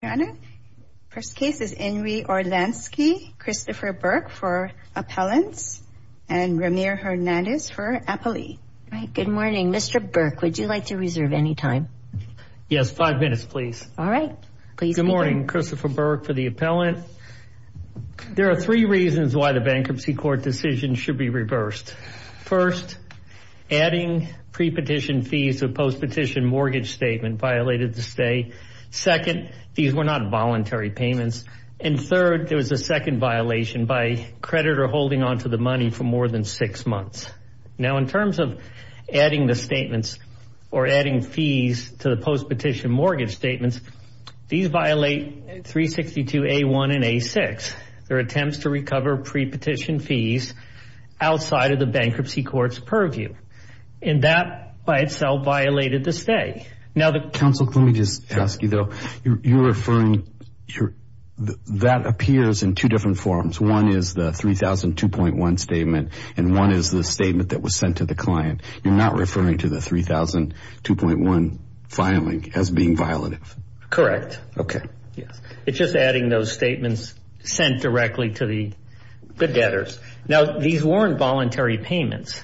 Your Honor, first case is Inri Orlansky, Christopher Burke for appellants and Ramir Hernandez for appellate. All right, good morning. Mr. Burke, would you like to reserve any time? Yes, five minutes, please. All right. Good morning. Christopher Burke for the appellant. There are three reasons why the bankruptcy court decision should be reversed. First, adding pre-petition fees to a post-petition mortgage statement violated the stay. Second, these were not voluntary payments. And third, there was a second violation by a creditor holding on to the money for more than six months. Now in terms of adding the statements or adding fees to the post-petition mortgage statements, these violate 362A1 and A6. They're attempts to recover pre-petition fees outside of the bankruptcy court's purview. And that by itself violated the stay. Counsel, let me just ask you, though, you're referring, that appears in two different forms. One is the 3,002.1 statement and one is the statement that was sent to the client. You're not referring to the 3,002.1 filing as being violative? Correct. Okay. Yes. It's just adding those statements sent directly to the debtors. Now these weren't voluntary payments.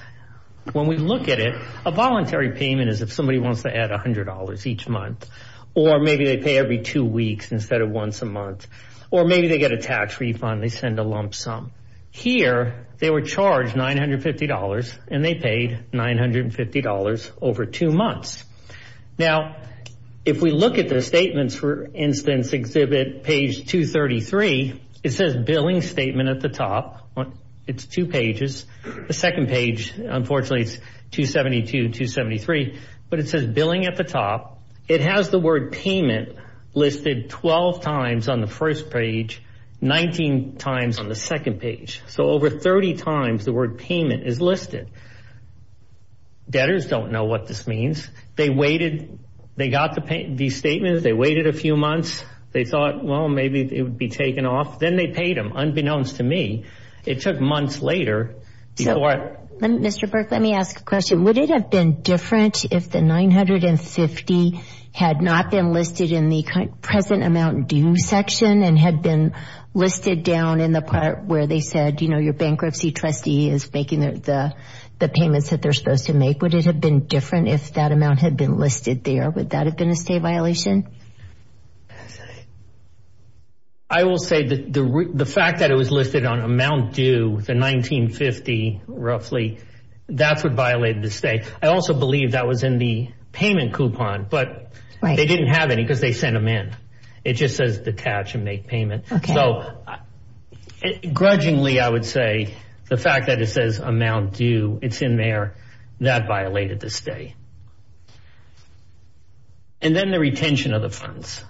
When we look at it, a voluntary payment is if somebody wants to add $100 each month. Or maybe they pay every two weeks instead of once a month. Or maybe they get a tax refund and they send a lump sum. Here they were charged $950 and they paid $950 over two months. Now if we look at the statements for instance, exhibit page 233, it says billing statement at the top. It's two pages. The second page, unfortunately, it's 272 and 273. But it says billing at the top. It has the word payment listed 12 times on the first page, 19 times on the second page. So over 30 times the word payment is listed. Debtors don't know what this means. They waited. They got these statements. They waited a few months. They thought, well, maybe it would be taken off. Then they paid them, unbeknownst to me. It took months later before it... Mr. Burke, let me ask a question. Would it have been different if the $950 had not been listed in the present amount due section and had been listed down in the part where they said, you know, your bankruptcy trustee is making the payments that they're supposed to make? Would it have been different if that amount had been listed there? Would that have been a state violation? I will say that the fact that it was listed on amount due, the $1950 roughly, that's what violated the state. I also believe that was in the payment coupon, but they didn't have any because they sent them in. It just says detach and make payment. So grudgingly, I would say the fact that it says amount due, it's in there, that violated the state. And then the retention of the funds.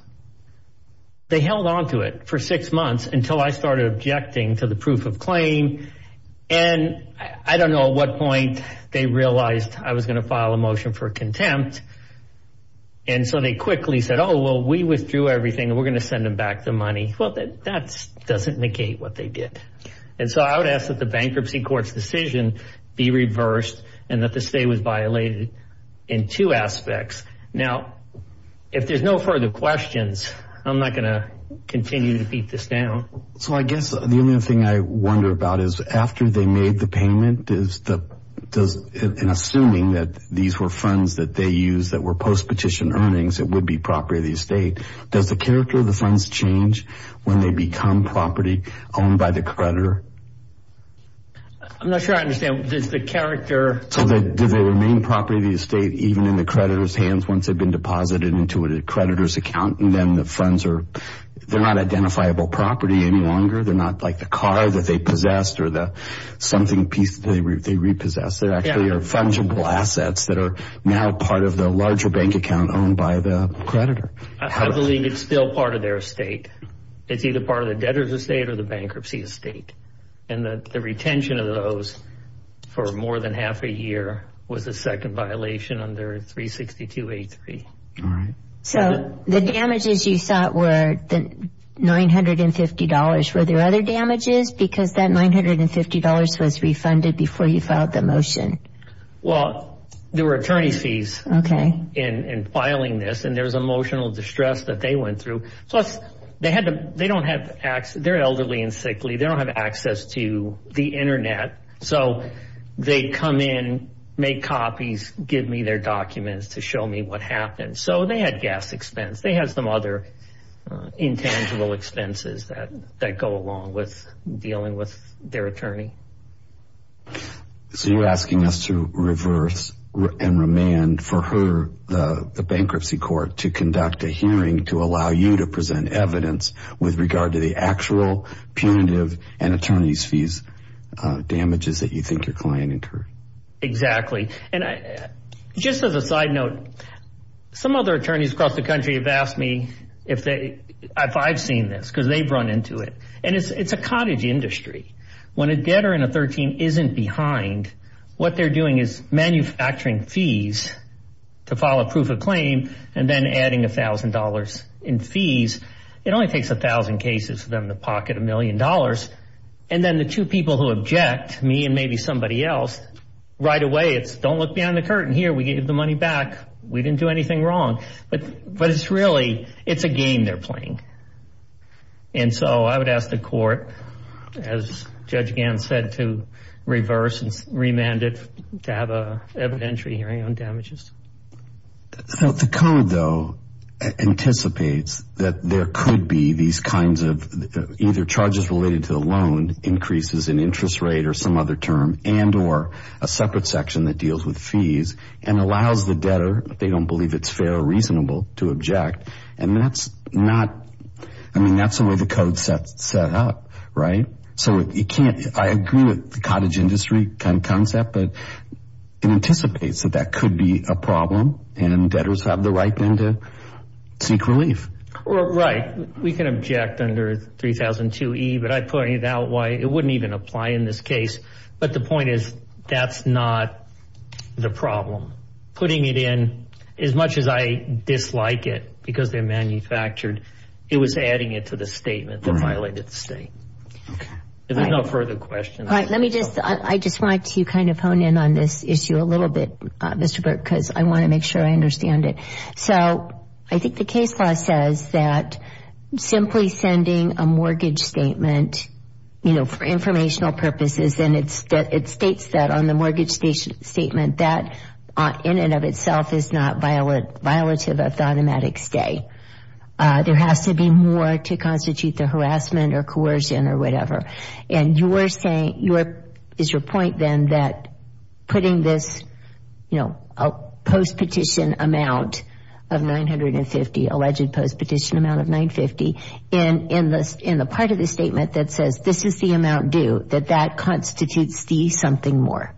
They held onto it for six months until I started objecting to the proof of claim. And I don't know at what point they realized I was going to file a motion for contempt. And so they quickly said, oh, well, we withdrew everything and we're going to send them back the money. Well, that doesn't negate what they did. And so I would ask that the bankruptcy court's decision be reversed and that the state was in two aspects. Now, if there's no further questions, I'm not going to continue to beat this down. So I guess the only thing I wonder about is after they made the payment, in assuming that these were funds that they used that were post-petition earnings that would be property of the estate, does the character of the funds change when they become property owned by the creditor? I'm not sure I understand. Does the character... So do they remain property of the estate even in the creditor's hands once they've been deposited into a creditor's account and then the funds are, they're not identifiable property any longer. They're not like the car that they possessed or the something piece that they repossessed. They actually are fungible assets that are now part of the larger bank account owned by the creditor. I believe it's still part of their estate. It's either part of the debtor's estate or the bankruptcy estate. And the retention of those for more than half a year was the second violation under 362.83. So the damages you thought were the $950, were there other damages because that $950 was refunded before you filed the motion? Well, there were attorney fees in filing this and there was emotional distress that they went through. Plus they had to, they don't have access, they're elderly and sickly. They don't have access to the internet. So they come in, make copies, give me their documents to show me what happened. So they had gas expense. They had some other intangible expenses that go along with dealing with their attorney. So you're asking us to reverse and remand for her, the bankruptcy court, to conduct a hearing to allow you to present evidence with regard to the actual punitive and attorney's fees damages that you think your client incurred. Exactly. And just as a side note, some other attorneys across the country have asked me if I've seen this because they've run into it. And it's a cottage industry. When a debtor in a 13 isn't behind, what they're doing is manufacturing fees to file a proof of claim and then adding $1,000 in fees. It only takes 1,000 cases for them to pocket $1,000,000. And then the two people who object, me and maybe somebody else, right away it's don't look behind the curtain. Here, we gave the money back. We didn't do anything wrong. But it's really, it's a game they're playing. And so I would ask the court, as Judge Gans said, to reverse and remand it to have an evidentiary hearing on damages. So the code, though, anticipates that there could be these kinds of either charges related to the loan, increases in interest rate or some other term, and or a separate section that deals with fees and allows the debtor, if they don't believe it's fair or reasonable, to object. And that's not, I mean, that's the way the code's set up, right? So you can't, I agree with the cottage industry kind of concept, but it anticipates that that would be a problem and debtors have the right then to seek relief. Right. We can object under 3002E, but I pointed out why it wouldn't even apply in this case. But the point is, that's not the problem. Putting it in, as much as I dislike it because they're manufactured, it was adding it to the statement that violated the state. If there's no further questions. All right. Let me just, I just want to kind of hone in on this issue a little bit, Mr. Burke, because I want to make sure I understand it. So I think the case law says that simply sending a mortgage statement, you know, for informational purposes, and it states that on the mortgage statement, that in and of itself is not violative of the automatic stay. There has to be more to constitute the harassment or coercion or whatever. And you were saying, is your point then that putting this, you know, a post petition amount of 950, alleged post petition amount of 950, in the part of the statement that says this is the amount due, that that constitutes the something more.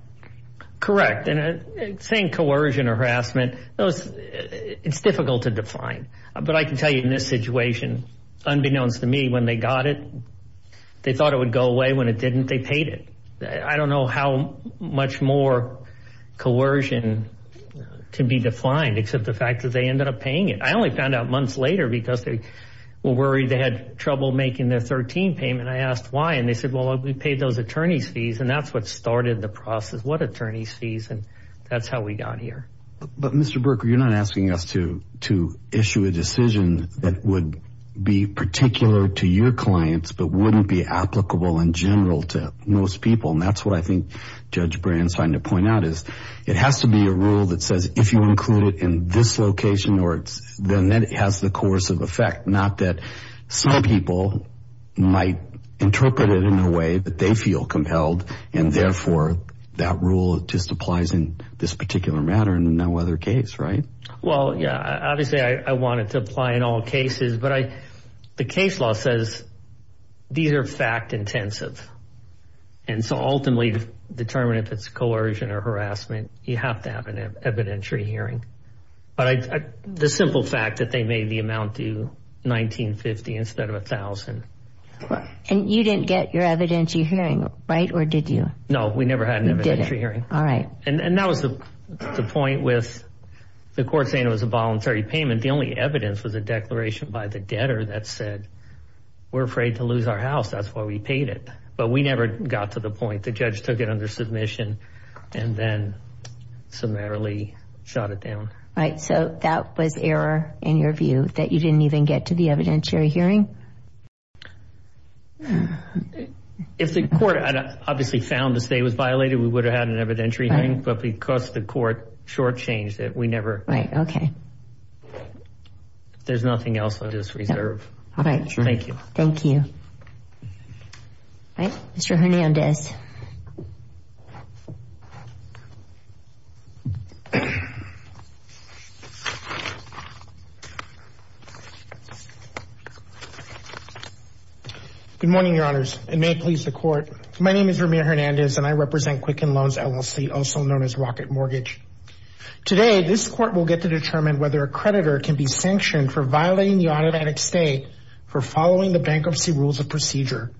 Correct. And saying coercion or harassment, it's difficult to define. But I can tell you in this situation, unbeknownst to me, when they got it, they thought it was going to go away. When it didn't, they paid it. I don't know how much more coercion to be defined, except the fact that they ended up paying it. I only found out months later because they were worried they had trouble making their 13 payment. I asked why. And they said, well, we paid those attorney's fees and that's what started the process. What attorney's fees? And that's how we got here. But Mr. Burke, you're not asking us to, to issue a decision that would be particular to your clients, but wouldn't be applicable in general to most people. And that's what I think Judge Brand's trying to point out is it has to be a rule that says if you include it in this location or it's the net, it has the course of effect. Not that some people might interpret it in a way that they feel compelled and therefore that rule just applies in this particular matter and no other case. Right. Well, yeah. I mean, obviously I want it to apply in all cases, but I, the case law says these are fact intensive. And so ultimately determine if it's coercion or harassment, you have to have an evidentiary hearing. But I, the simple fact that they made the amount due 1950 instead of a thousand. And you didn't get your evidentiary hearing, right? Or did you? No, we never had an evidentiary hearing. All right. And that was the point with the court saying it was a voluntary payment. The only evidence was a declaration by the debtor that said, we're afraid to lose our house. That's why we paid it. But we never got to the point. The judge took it under submission and then summarily shot it down. Right. So that was error in your view that you didn't even get to the evidentiary hearing? If the court obviously found the state was violated, we would have had an evidentiary hearing, but because the court short changed it, we never, there's nothing else on this reserve. All right. Thank you. Thank you. All right. Mr. Hernandez. Good morning, your honors, and may it please the court. My name is Ramir Hernandez and I represent Quicken Loans LLC, also known as Rocket Mortgage. Today, this court will get to determine whether a creditor can be sanctioned for violating the automatic stay for following the bankruptcy rules of procedure.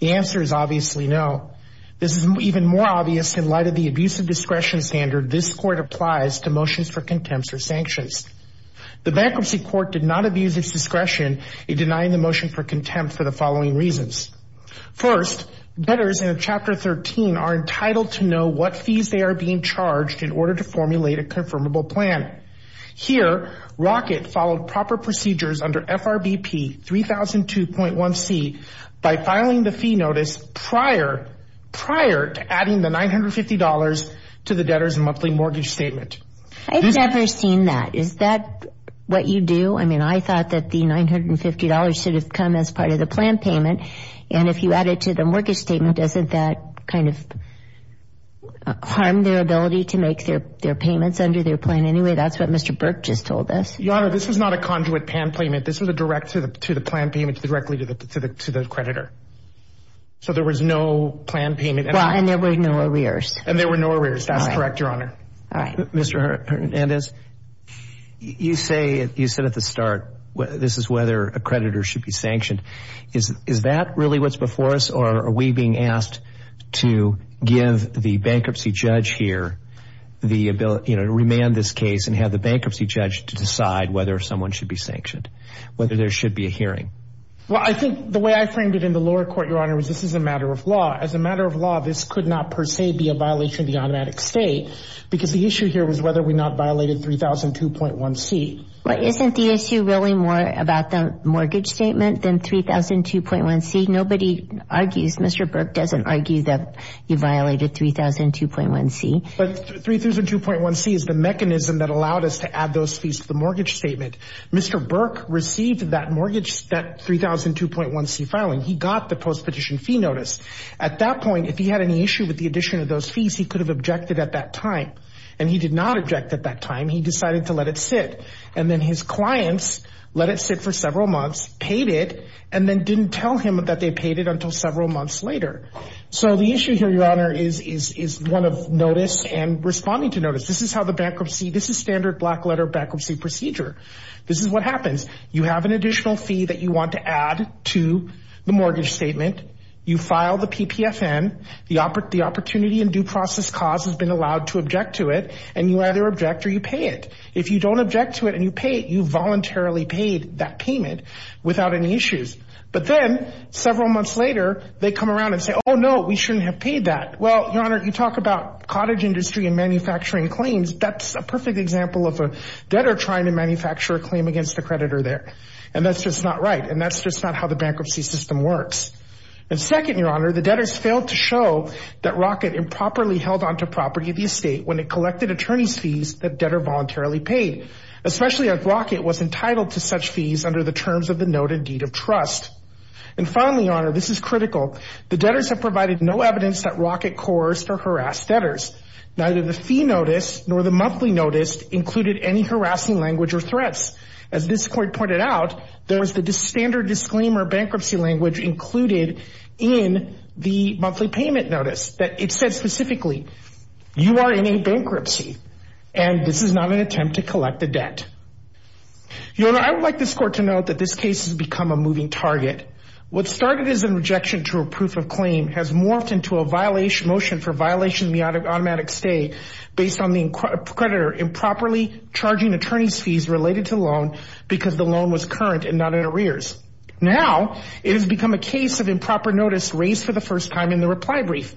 The answer is obviously no. This is even more obvious in light of the abuse of discretion standard this court applies to motions for contempt or sanctions. The bankruptcy court did not abuse its discretion in denying the motion for contempt for the following reasons. First, debtors in Chapter 13 are entitled to know what fees they are being charged in order to formulate a confirmable plan. Here, Rocket followed proper procedures under FRBP 3002.1c by filing the fee notice prior to adding the $950 to the debtor's monthly mortgage statement. I've never seen that. Is that what you do? I mean, I thought that the $950 should have come as part of the plan payment. And if you add it to the mortgage statement, doesn't that kind of harm their ability to make their payments under their plan anyway? That's what Mr. Burke just told us. Your honor, this was not a conduit PAN payment. This was a direct to the plan payment directly to the creditor. So there was no plan payment. And there were no arrears. That's correct, your honor. All right. Mr. Hernandez, you said at the start, this is whether a creditor should be sanctioned. Is that really what's before us? Or are we being asked to give the bankruptcy judge here the ability to remand this case and have the bankruptcy judge to decide whether someone should be sanctioned, whether there should be a hearing? Well, I think the way I framed it in the lower court, your honor, was this is a matter of law. As a matter of law, this could not per se be a violation of the automatic state because the issue here was whether we not violated 3002.1c. But isn't the issue really more about the mortgage statement than 3002.1c? Nobody argues, Mr. Burke doesn't argue that you violated 3002.1c. But 3002.1c is the mechanism that allowed us to add those fees to the mortgage statement. Mr. Burke received that mortgage, that 3002.1c filing. He got the post petition fee notice. At that point, if he had any issue with the addition of those fees, he could have objected at that time. And he did not object at that time. He decided to let it sit. And then his clients let it sit for several months, paid it, and then didn't tell him that they paid it until several months later. So the issue here, your honor, is one of notice and responding to notice. This is how the bankruptcy, this is standard black letter bankruptcy procedure. This is what happens. You have an additional fee that you want to add to the mortgage statement. You file the PPFN. The opportunity and due process cause has been allowed to object to it. And you either object or you pay it. If you don't object to it and you pay it, you voluntarily paid that payment without any issues. But then several months later, they come around and say, oh no, we shouldn't have paid that. Well, your honor, you talk about cottage industry and manufacturing claims. That's a perfect example of a debtor trying to manufacture a claim against the creditor there. And that's just not right. And that's just not how the bankruptcy system works. And second, your honor, the debtors failed to show that Rocket improperly held onto property of the estate when it collected attorney's fees that debtor voluntarily paid, especially if Rocket was entitled to such fees under the terms of the noted deed of trust. And finally, your honor, this is critical. The debtors have provided no evidence that Rocket coerced or harassed debtors. Neither the fee notice nor the monthly notice included any harassing language or threats. As this court pointed out, there was the standard disclaimer bankruptcy language included in the monthly payment notice that it said specifically, you are in a bankruptcy and this is not an attempt to collect the debt. Your honor, I would like this court to note that this case has become a moving target. What started as a rejection to a proof of claim has morphed into a violation motion for violation of the automatic stay based on the creditor improperly charging attorney's related to the loan because the loan was current and not in arrears. Now it has become a case of improper notice raised for the first time in the reply brief.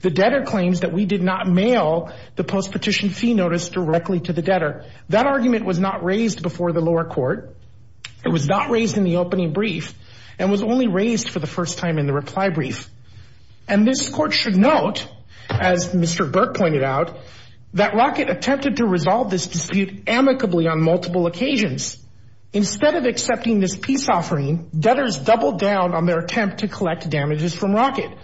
The debtor claims that we did not mail the post petition fee notice directly to the debtor. That argument was not raised before the lower court. It was not raised in the opening brief and was only raised for the first time in the reply brief. And this court should note, as Mr. Burke pointed out, that Rocket attempted to resolve this dispute amicably on multiple occasions. Instead of accepting this peace offering, debtors doubled down on their attempt to collect damages from Rocket.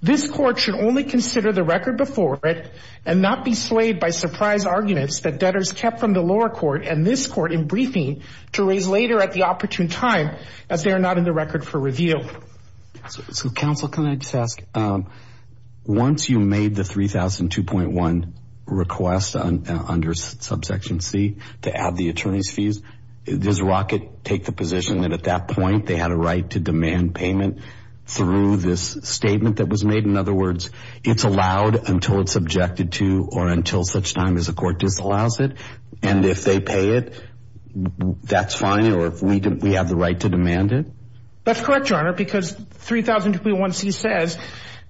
This court should only consider the record before it and not be swayed by surprise arguments that debtors kept from the lower court and this court in briefing to raise later at the opportune time as they are not in the record for review. So counsel, can I just ask, um, once you made the 3,002.1 request under subsection C to add the attorney's fees, does Rocket take the position that at that point they had a right to demand payment through this statement that was made? In other words, it's allowed until it's subjected to or until such time as the court disallows it. And if they pay it, that's fine. Or if we didn't, we have the right to demand it. That's correct, Your Honor, because 3,002.1c says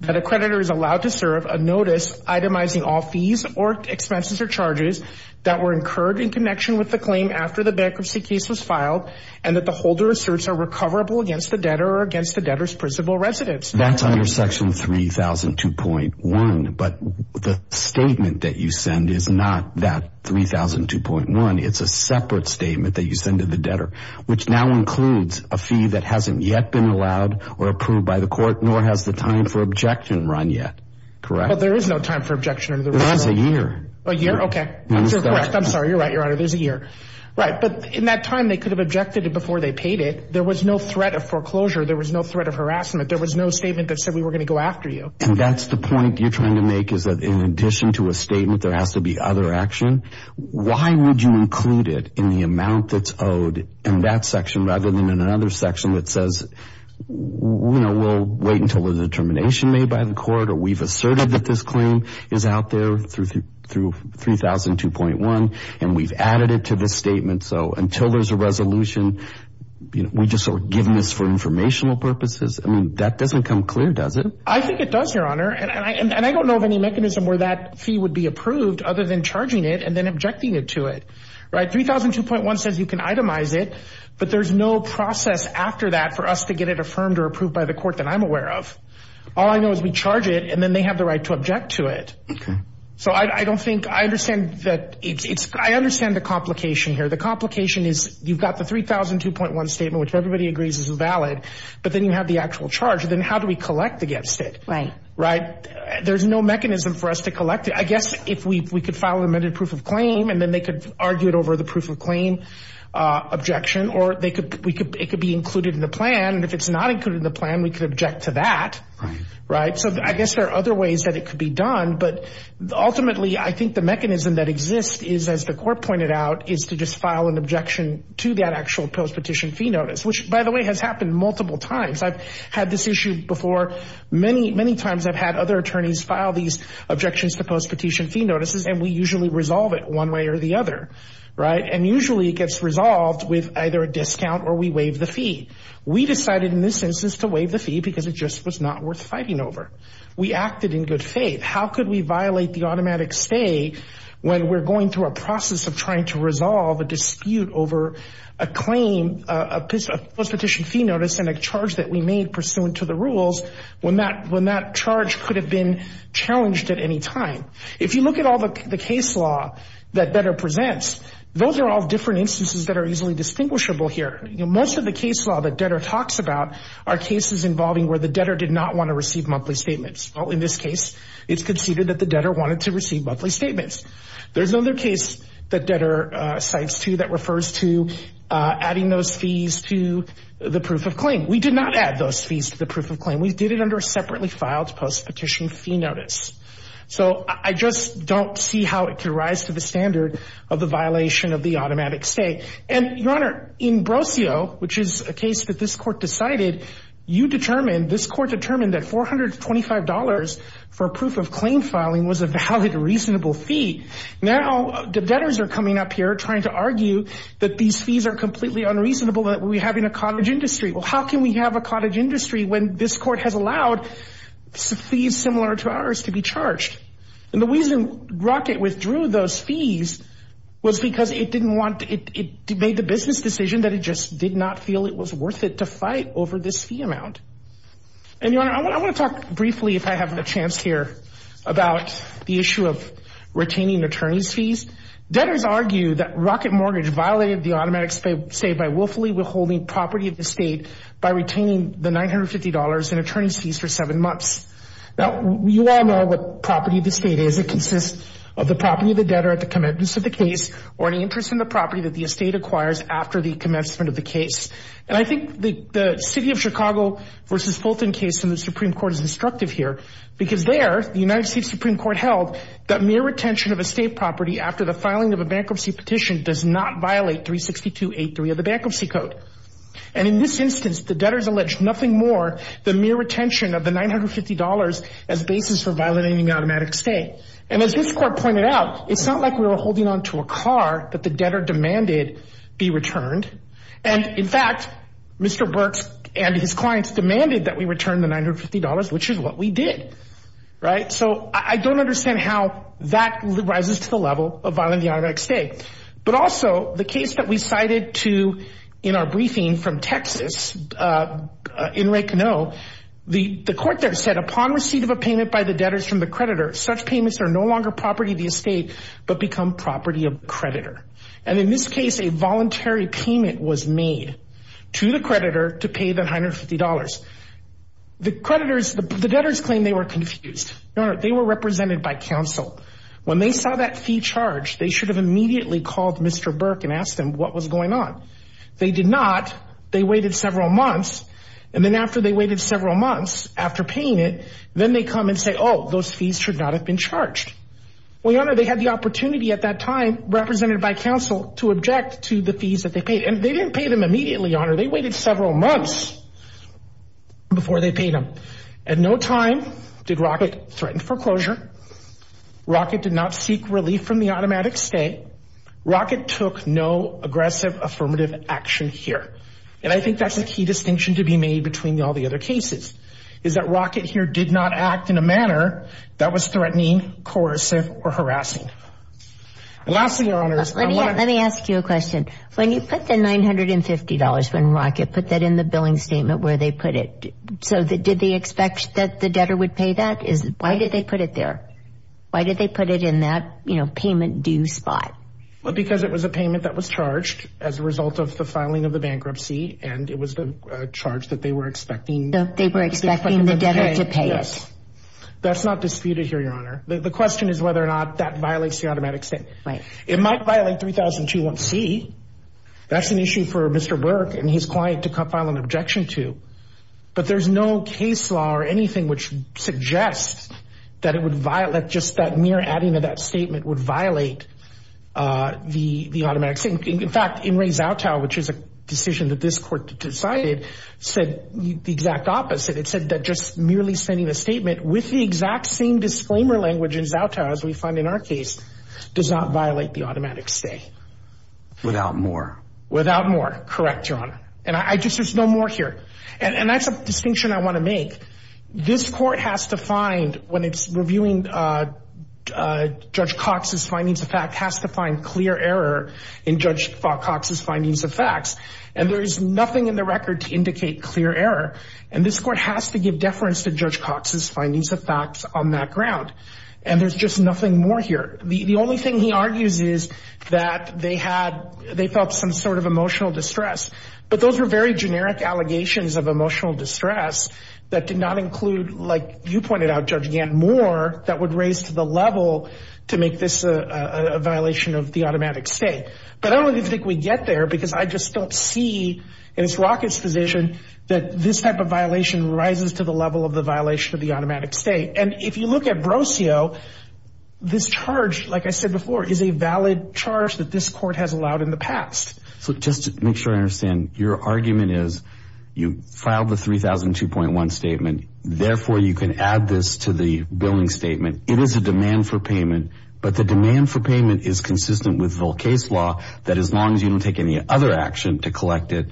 that a creditor is allowed to serve a notice itemizing all fees or expenses or charges that were incurred in connection with the claim after the bankruptcy case was filed and that the holder asserts are recoverable against the debtor or against the debtor's principal residence. That's under section 3,002.1, but the statement that you send is not that 3,002.1. It's a separate statement that you send to the debtor, which now includes a fee that hasn't yet been allowed or approved by the court, nor has the time for objection run yet. Correct? Well, there is no time for objection. There was a year. A year? Okay. I'm sorry. You're right. You're right. There's a year. Right. But in that time, they could have objected it before they paid it. There was no threat of foreclosure. There was no threat of harassment. There was no statement that said we were going to go after you. And that's the point you're trying to make is that in addition to a statement, there has to be other action. Why would you include it in the amount that's owed in that section rather than in another section that says, you know, we'll wait until there's a determination made by the court or we've asserted that this claim is out there through 3,002.1 and we've added it to this statement. So until there's a resolution, you know, we're just sort of giving this for informational purposes. I mean, that doesn't come clear, does it? I think it does, Your Honor. And I don't know of any mechanism where that fee would be approved other than charging it and then objecting it to it. Right? 3,002.1 says you can itemize it, but there's no process after that for us to get it affirmed or approved by the court that I'm aware of. All I know is we charge it and then they have the right to object to it. So I don't think I understand that it's I understand the complication here. The complication is you've got the 3,002.1 statement, which everybody agrees is valid, but then you have the actual charge. Then how do we collect against it? Right. Right. There's no mechanism for us to collect it. I mean, I guess if we could file an amended proof of claim and then they could argue it over the proof of claim objection, or it could be included in the plan. And if it's not included in the plan, we could object to that. Right. Right. So I guess there are other ways that it could be done. But ultimately, I think the mechanism that exists is, as the court pointed out, is to just file an objection to that actual post-petition fee notice, which, by the way, has happened multiple times. I've had this issue before. Many times I've had other attorneys file these objections to post-petition fee notices, and we usually resolve it one way or the other. Right. And usually it gets resolved with either a discount or we waive the fee. We decided in this instance to waive the fee because it just was not worth fighting over. We acted in good faith. How could we violate the automatic stay when we're going through a process of trying to resolve a dispute over a claim, a post-petition fee notice, and a charge that we made pursuant to the rules when that charge could have been challenged at any time? If you look at all the case law that Detter presents, those are all different instances that are easily distinguishable here. Most of the case law that Detter talks about are cases involving where the debtor did not want to receive monthly statements. Well, in this case, it's conceded that the debtor wanted to receive monthly statements. There's another case that Detter cites, too, that refers to adding those fees to the proof of claim. We did not add those fees to the proof of claim. We did it under a separately filed post-petition fee notice. So I just don't see how it could rise to the standard of the violation of the automatic stay. And, Your Honor, in Brosio, which is a case that this court decided, you determined, this court determined that $425 for a proof of claim filing was a valid reasonable fee. Now the debtors are coming up here trying to argue that these fees are completely unreasonable that we have in a cottage industry. Well, how can we have a cottage industry when this court has allowed fees similar to ours to be charged? And the reason Rocket withdrew those fees was because it didn't want, it made the business decision that it just did not feel it was worth it to fight over this fee amount. And, Your Honor, I want to talk briefly, if I have a chance here, about the issue of retaining attorney's fees. Debtors argue that Rocket Mortgage violated the automatic stay by willfully withholding the property of the state by retaining the $950 in attorney's fees for seven months. Now you all know what property of the state is. It consists of the property of the debtor at the commencement of the case or any interest in the property that the estate acquires after the commencement of the case. And I think the City of Chicago v. Fulton case in the Supreme Court is instructive here because there the United States Supreme Court held that mere retention of estate property after the filing of a bankruptcy petition does not violate 362.83 of the Bankruptcy Code. And in this instance, the debtors allege nothing more than mere retention of the $950 as basis for violating the automatic stay. And as this court pointed out, it's not like we were holding on to a car that the debtor demanded be returned. And in fact, Mr. Burks and his clients demanded that we return the $950, which is what we did. Right? So I don't understand how that rises to the level of violating the automatic stay. But also the case that we cited in our briefing from Texas, in Ray Canoe, the court there said upon receipt of a payment by the debtors from the creditor, such payments are no longer property of the estate, but become property of the creditor. And in this case, a voluntary payment was made to the creditor to pay the $950. The creditors, the debtors claim they were confused. They were represented by counsel. When they saw that fee charged, they should have immediately called Mr. Burke and asked him what was going on. They did not. They waited several months. And then after they waited several months after paying it, then they come and say, oh, those fees should not have been charged. Well, your honor, they had the opportunity at that time represented by counsel to object to the fees that they paid. And they didn't pay them immediately, your honor. They waited several months before they paid them. At no time did Rocket threaten foreclosure. Rocket did not seek relief from the automatic stay. Rocket took no aggressive, affirmative action here. And I think that's a key distinction to be made between all the other cases, is that Rocket here did not act in a manner that was threatening, coercive, or harassing. And lastly, your honors, let me ask you a question. When you put the $950, when Rocket put that in the billing statement where they put it, so did they expect that the debtor would pay that? Why did they put it there? Why did they put it in that, you know, payment due spot? Well, because it was a payment that was charged as a result of the filing of the bankruptcy. And it was the charge that they were expecting. They were expecting the debtor to pay it. Yes. That's not disputed here, your honor. The question is whether or not that violates the automatic stay. It might violate 3002-1C. That's an issue for Mr. Burke and his client to file an objection to. But there's no case law or anything which suggests that it would violate, just that mere adding to that statement would violate the automatic stay. In fact, Imre Zautau, which is a decision that this court decided, said the exact opposite. It said that just merely sending a statement with the exact same disclaimer language in our case does not violate the automatic stay. Without more. Without more. Correct, your honor. And I just, there's no more here. And that's a distinction I want to make. This court has to find, when it's reviewing Judge Cox's findings of fact, has to find clear error in Judge Cox's findings of facts. And there is nothing in the record to indicate clear error. And this court has to give deference to Judge Cox's findings of facts on that ground. And there's just nothing more here. The only thing he argues is that they had, they felt some sort of emotional distress. But those were very generic allegations of emotional distress that did not include, like you pointed out, Judge Gantt, more that would raise to the level to make this a violation of the automatic stay. But I don't really think we get there because I just don't see, in Ms. Rockett's position, that this type of violation rises to the level of the violation of the automatic stay. And if you look at Brossio, this charge, like I said before, is a valid charge that this court has allowed in the past. So just to make sure I understand, your argument is, you filed the 3002.1 statement, therefore you can add this to the billing statement. It is a demand for payment. But the demand for payment is consistent with Volcay's law, that as long as you don't take any other action to collect it,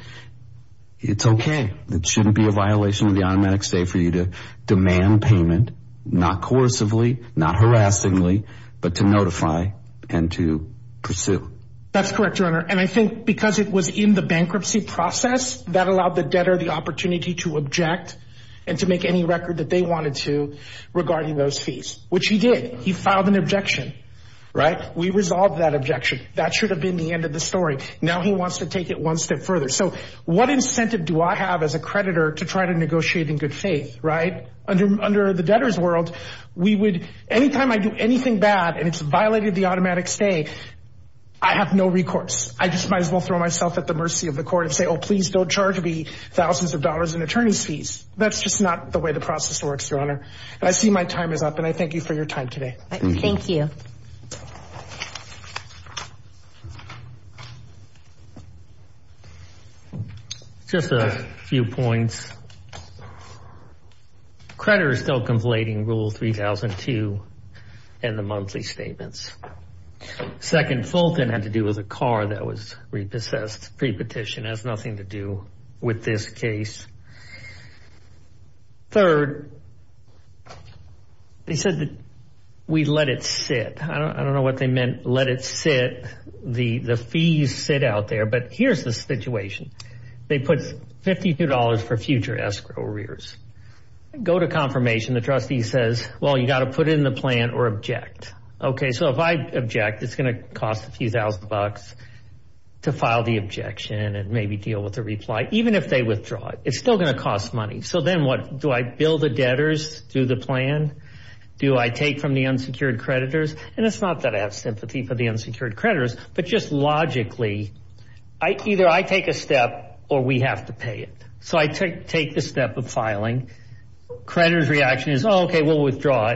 it's okay. It shouldn't be a violation of the automatic stay for you to demand payment, not coercively, not harassingly, but to notify and to pursue. That's correct, Your Honor. And I think because it was in the bankruptcy process, that allowed the debtor the opportunity to object and to make any record that they wanted to regarding those fees, which he did. He filed an objection, right? We resolved that objection. That should have been the end of the story. Now he wants to take it one step further. So what incentive do I have as a creditor to try to negotiate in good faith, right? Under the debtor's world, we would, anytime I do anything bad and it's violated the automatic stay, I have no recourse. I just might as well throw myself at the mercy of the court and say, oh, please don't charge me thousands of dollars in attorney's fees. That's just not the way the process works, Your Honor. And I see my time is up and I thank you for your time today. Thank you. Just a few points. Creditor is still conflating rule 3002 and the monthly statements. Second Fulton had to do with a car that was repossessed, pre-petition has nothing to do with this case. Third, they said that we let it sit. I don't know what they meant, let it sit. The fees sit out there. But here's the situation. They put $52 for future escrow arrears. Go to confirmation. The trustee says, well, you got to put it in the plan or object. Okay, so if I object, it's going to cost a few thousand bucks to file the objection and maybe deal with the reply, even if they withdraw it. It's still going to cost money. So then what? Do I bill the debtors through the plan? Do I take from the unsecured creditors? And it's not that I have sympathy for the unsecured creditors, but just logically, either I take a step or we have to pay it. So I take the step of filing. Creditor's reaction is, okay, we'll withdraw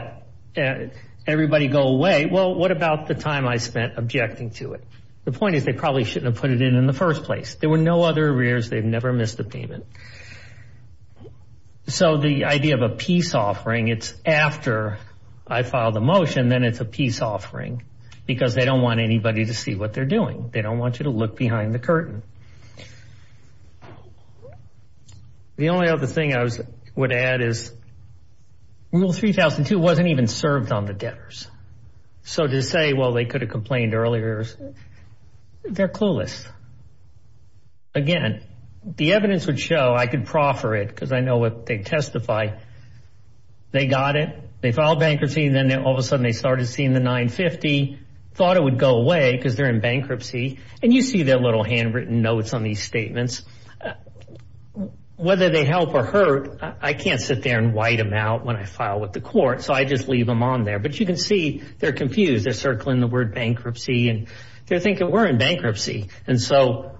it. Everybody go away. Well, what about the time I spent objecting to it? The point is they probably shouldn't have put it in in the first place. There were no other arrears. They've never missed a payment. So the idea of a peace offering, it's after I file the motion, then it's a peace offering because they don't want anybody to see what they're doing. They don't want you to look behind the curtain. The only other thing I would add is Rule 3002 wasn't even served on the debtors. So to say, well, they could have complained earlier, they're clueless. Again, the evidence would show, I could proffer it because I know what they testify. They got it. They filed bankruptcy. And then all of a sudden they started seeing the 950, thought it would go away because they're in bankruptcy. And you see their little handwritten notes on these statements. Whether they help or hurt, I can't sit there and white them out when I file with the court. So I just leave them on there. But you can see they're confused. They're circling the word bankruptcy and they're thinking, we're in bankruptcy. And so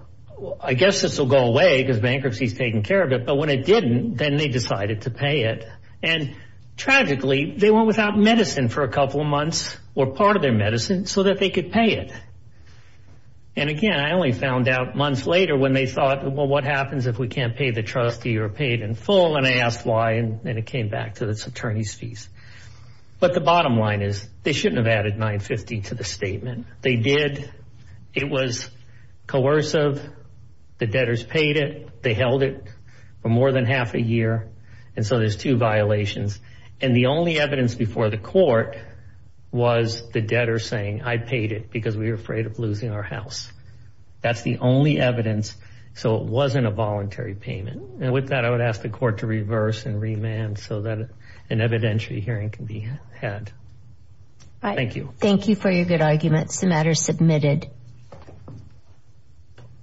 I guess this will go away because bankruptcy is taking care of it. But when it didn't, then they decided to pay it. And tragically, they went without medicine for a couple of months or part of their medicine so that they could pay it. And again, I only found out months later when they thought, well, what happens if we can't pay the trustee or pay it in full? And I asked why. And then it came back to this attorney's fees. But the bottom line is they shouldn't have added 950 to the statement. They did. It was coercive. The debtors paid it. They held it for more than half a year. And so there's two violations. And the only evidence before the court was the debtor saying, I paid it because we were afraid of losing our house. That's the only evidence. So it wasn't a voluntary payment. And with that, I would ask the court to reverse and remand so that an evidentiary hearing can be had. Thank you. Thank you for your good arguments. The matter is submitted.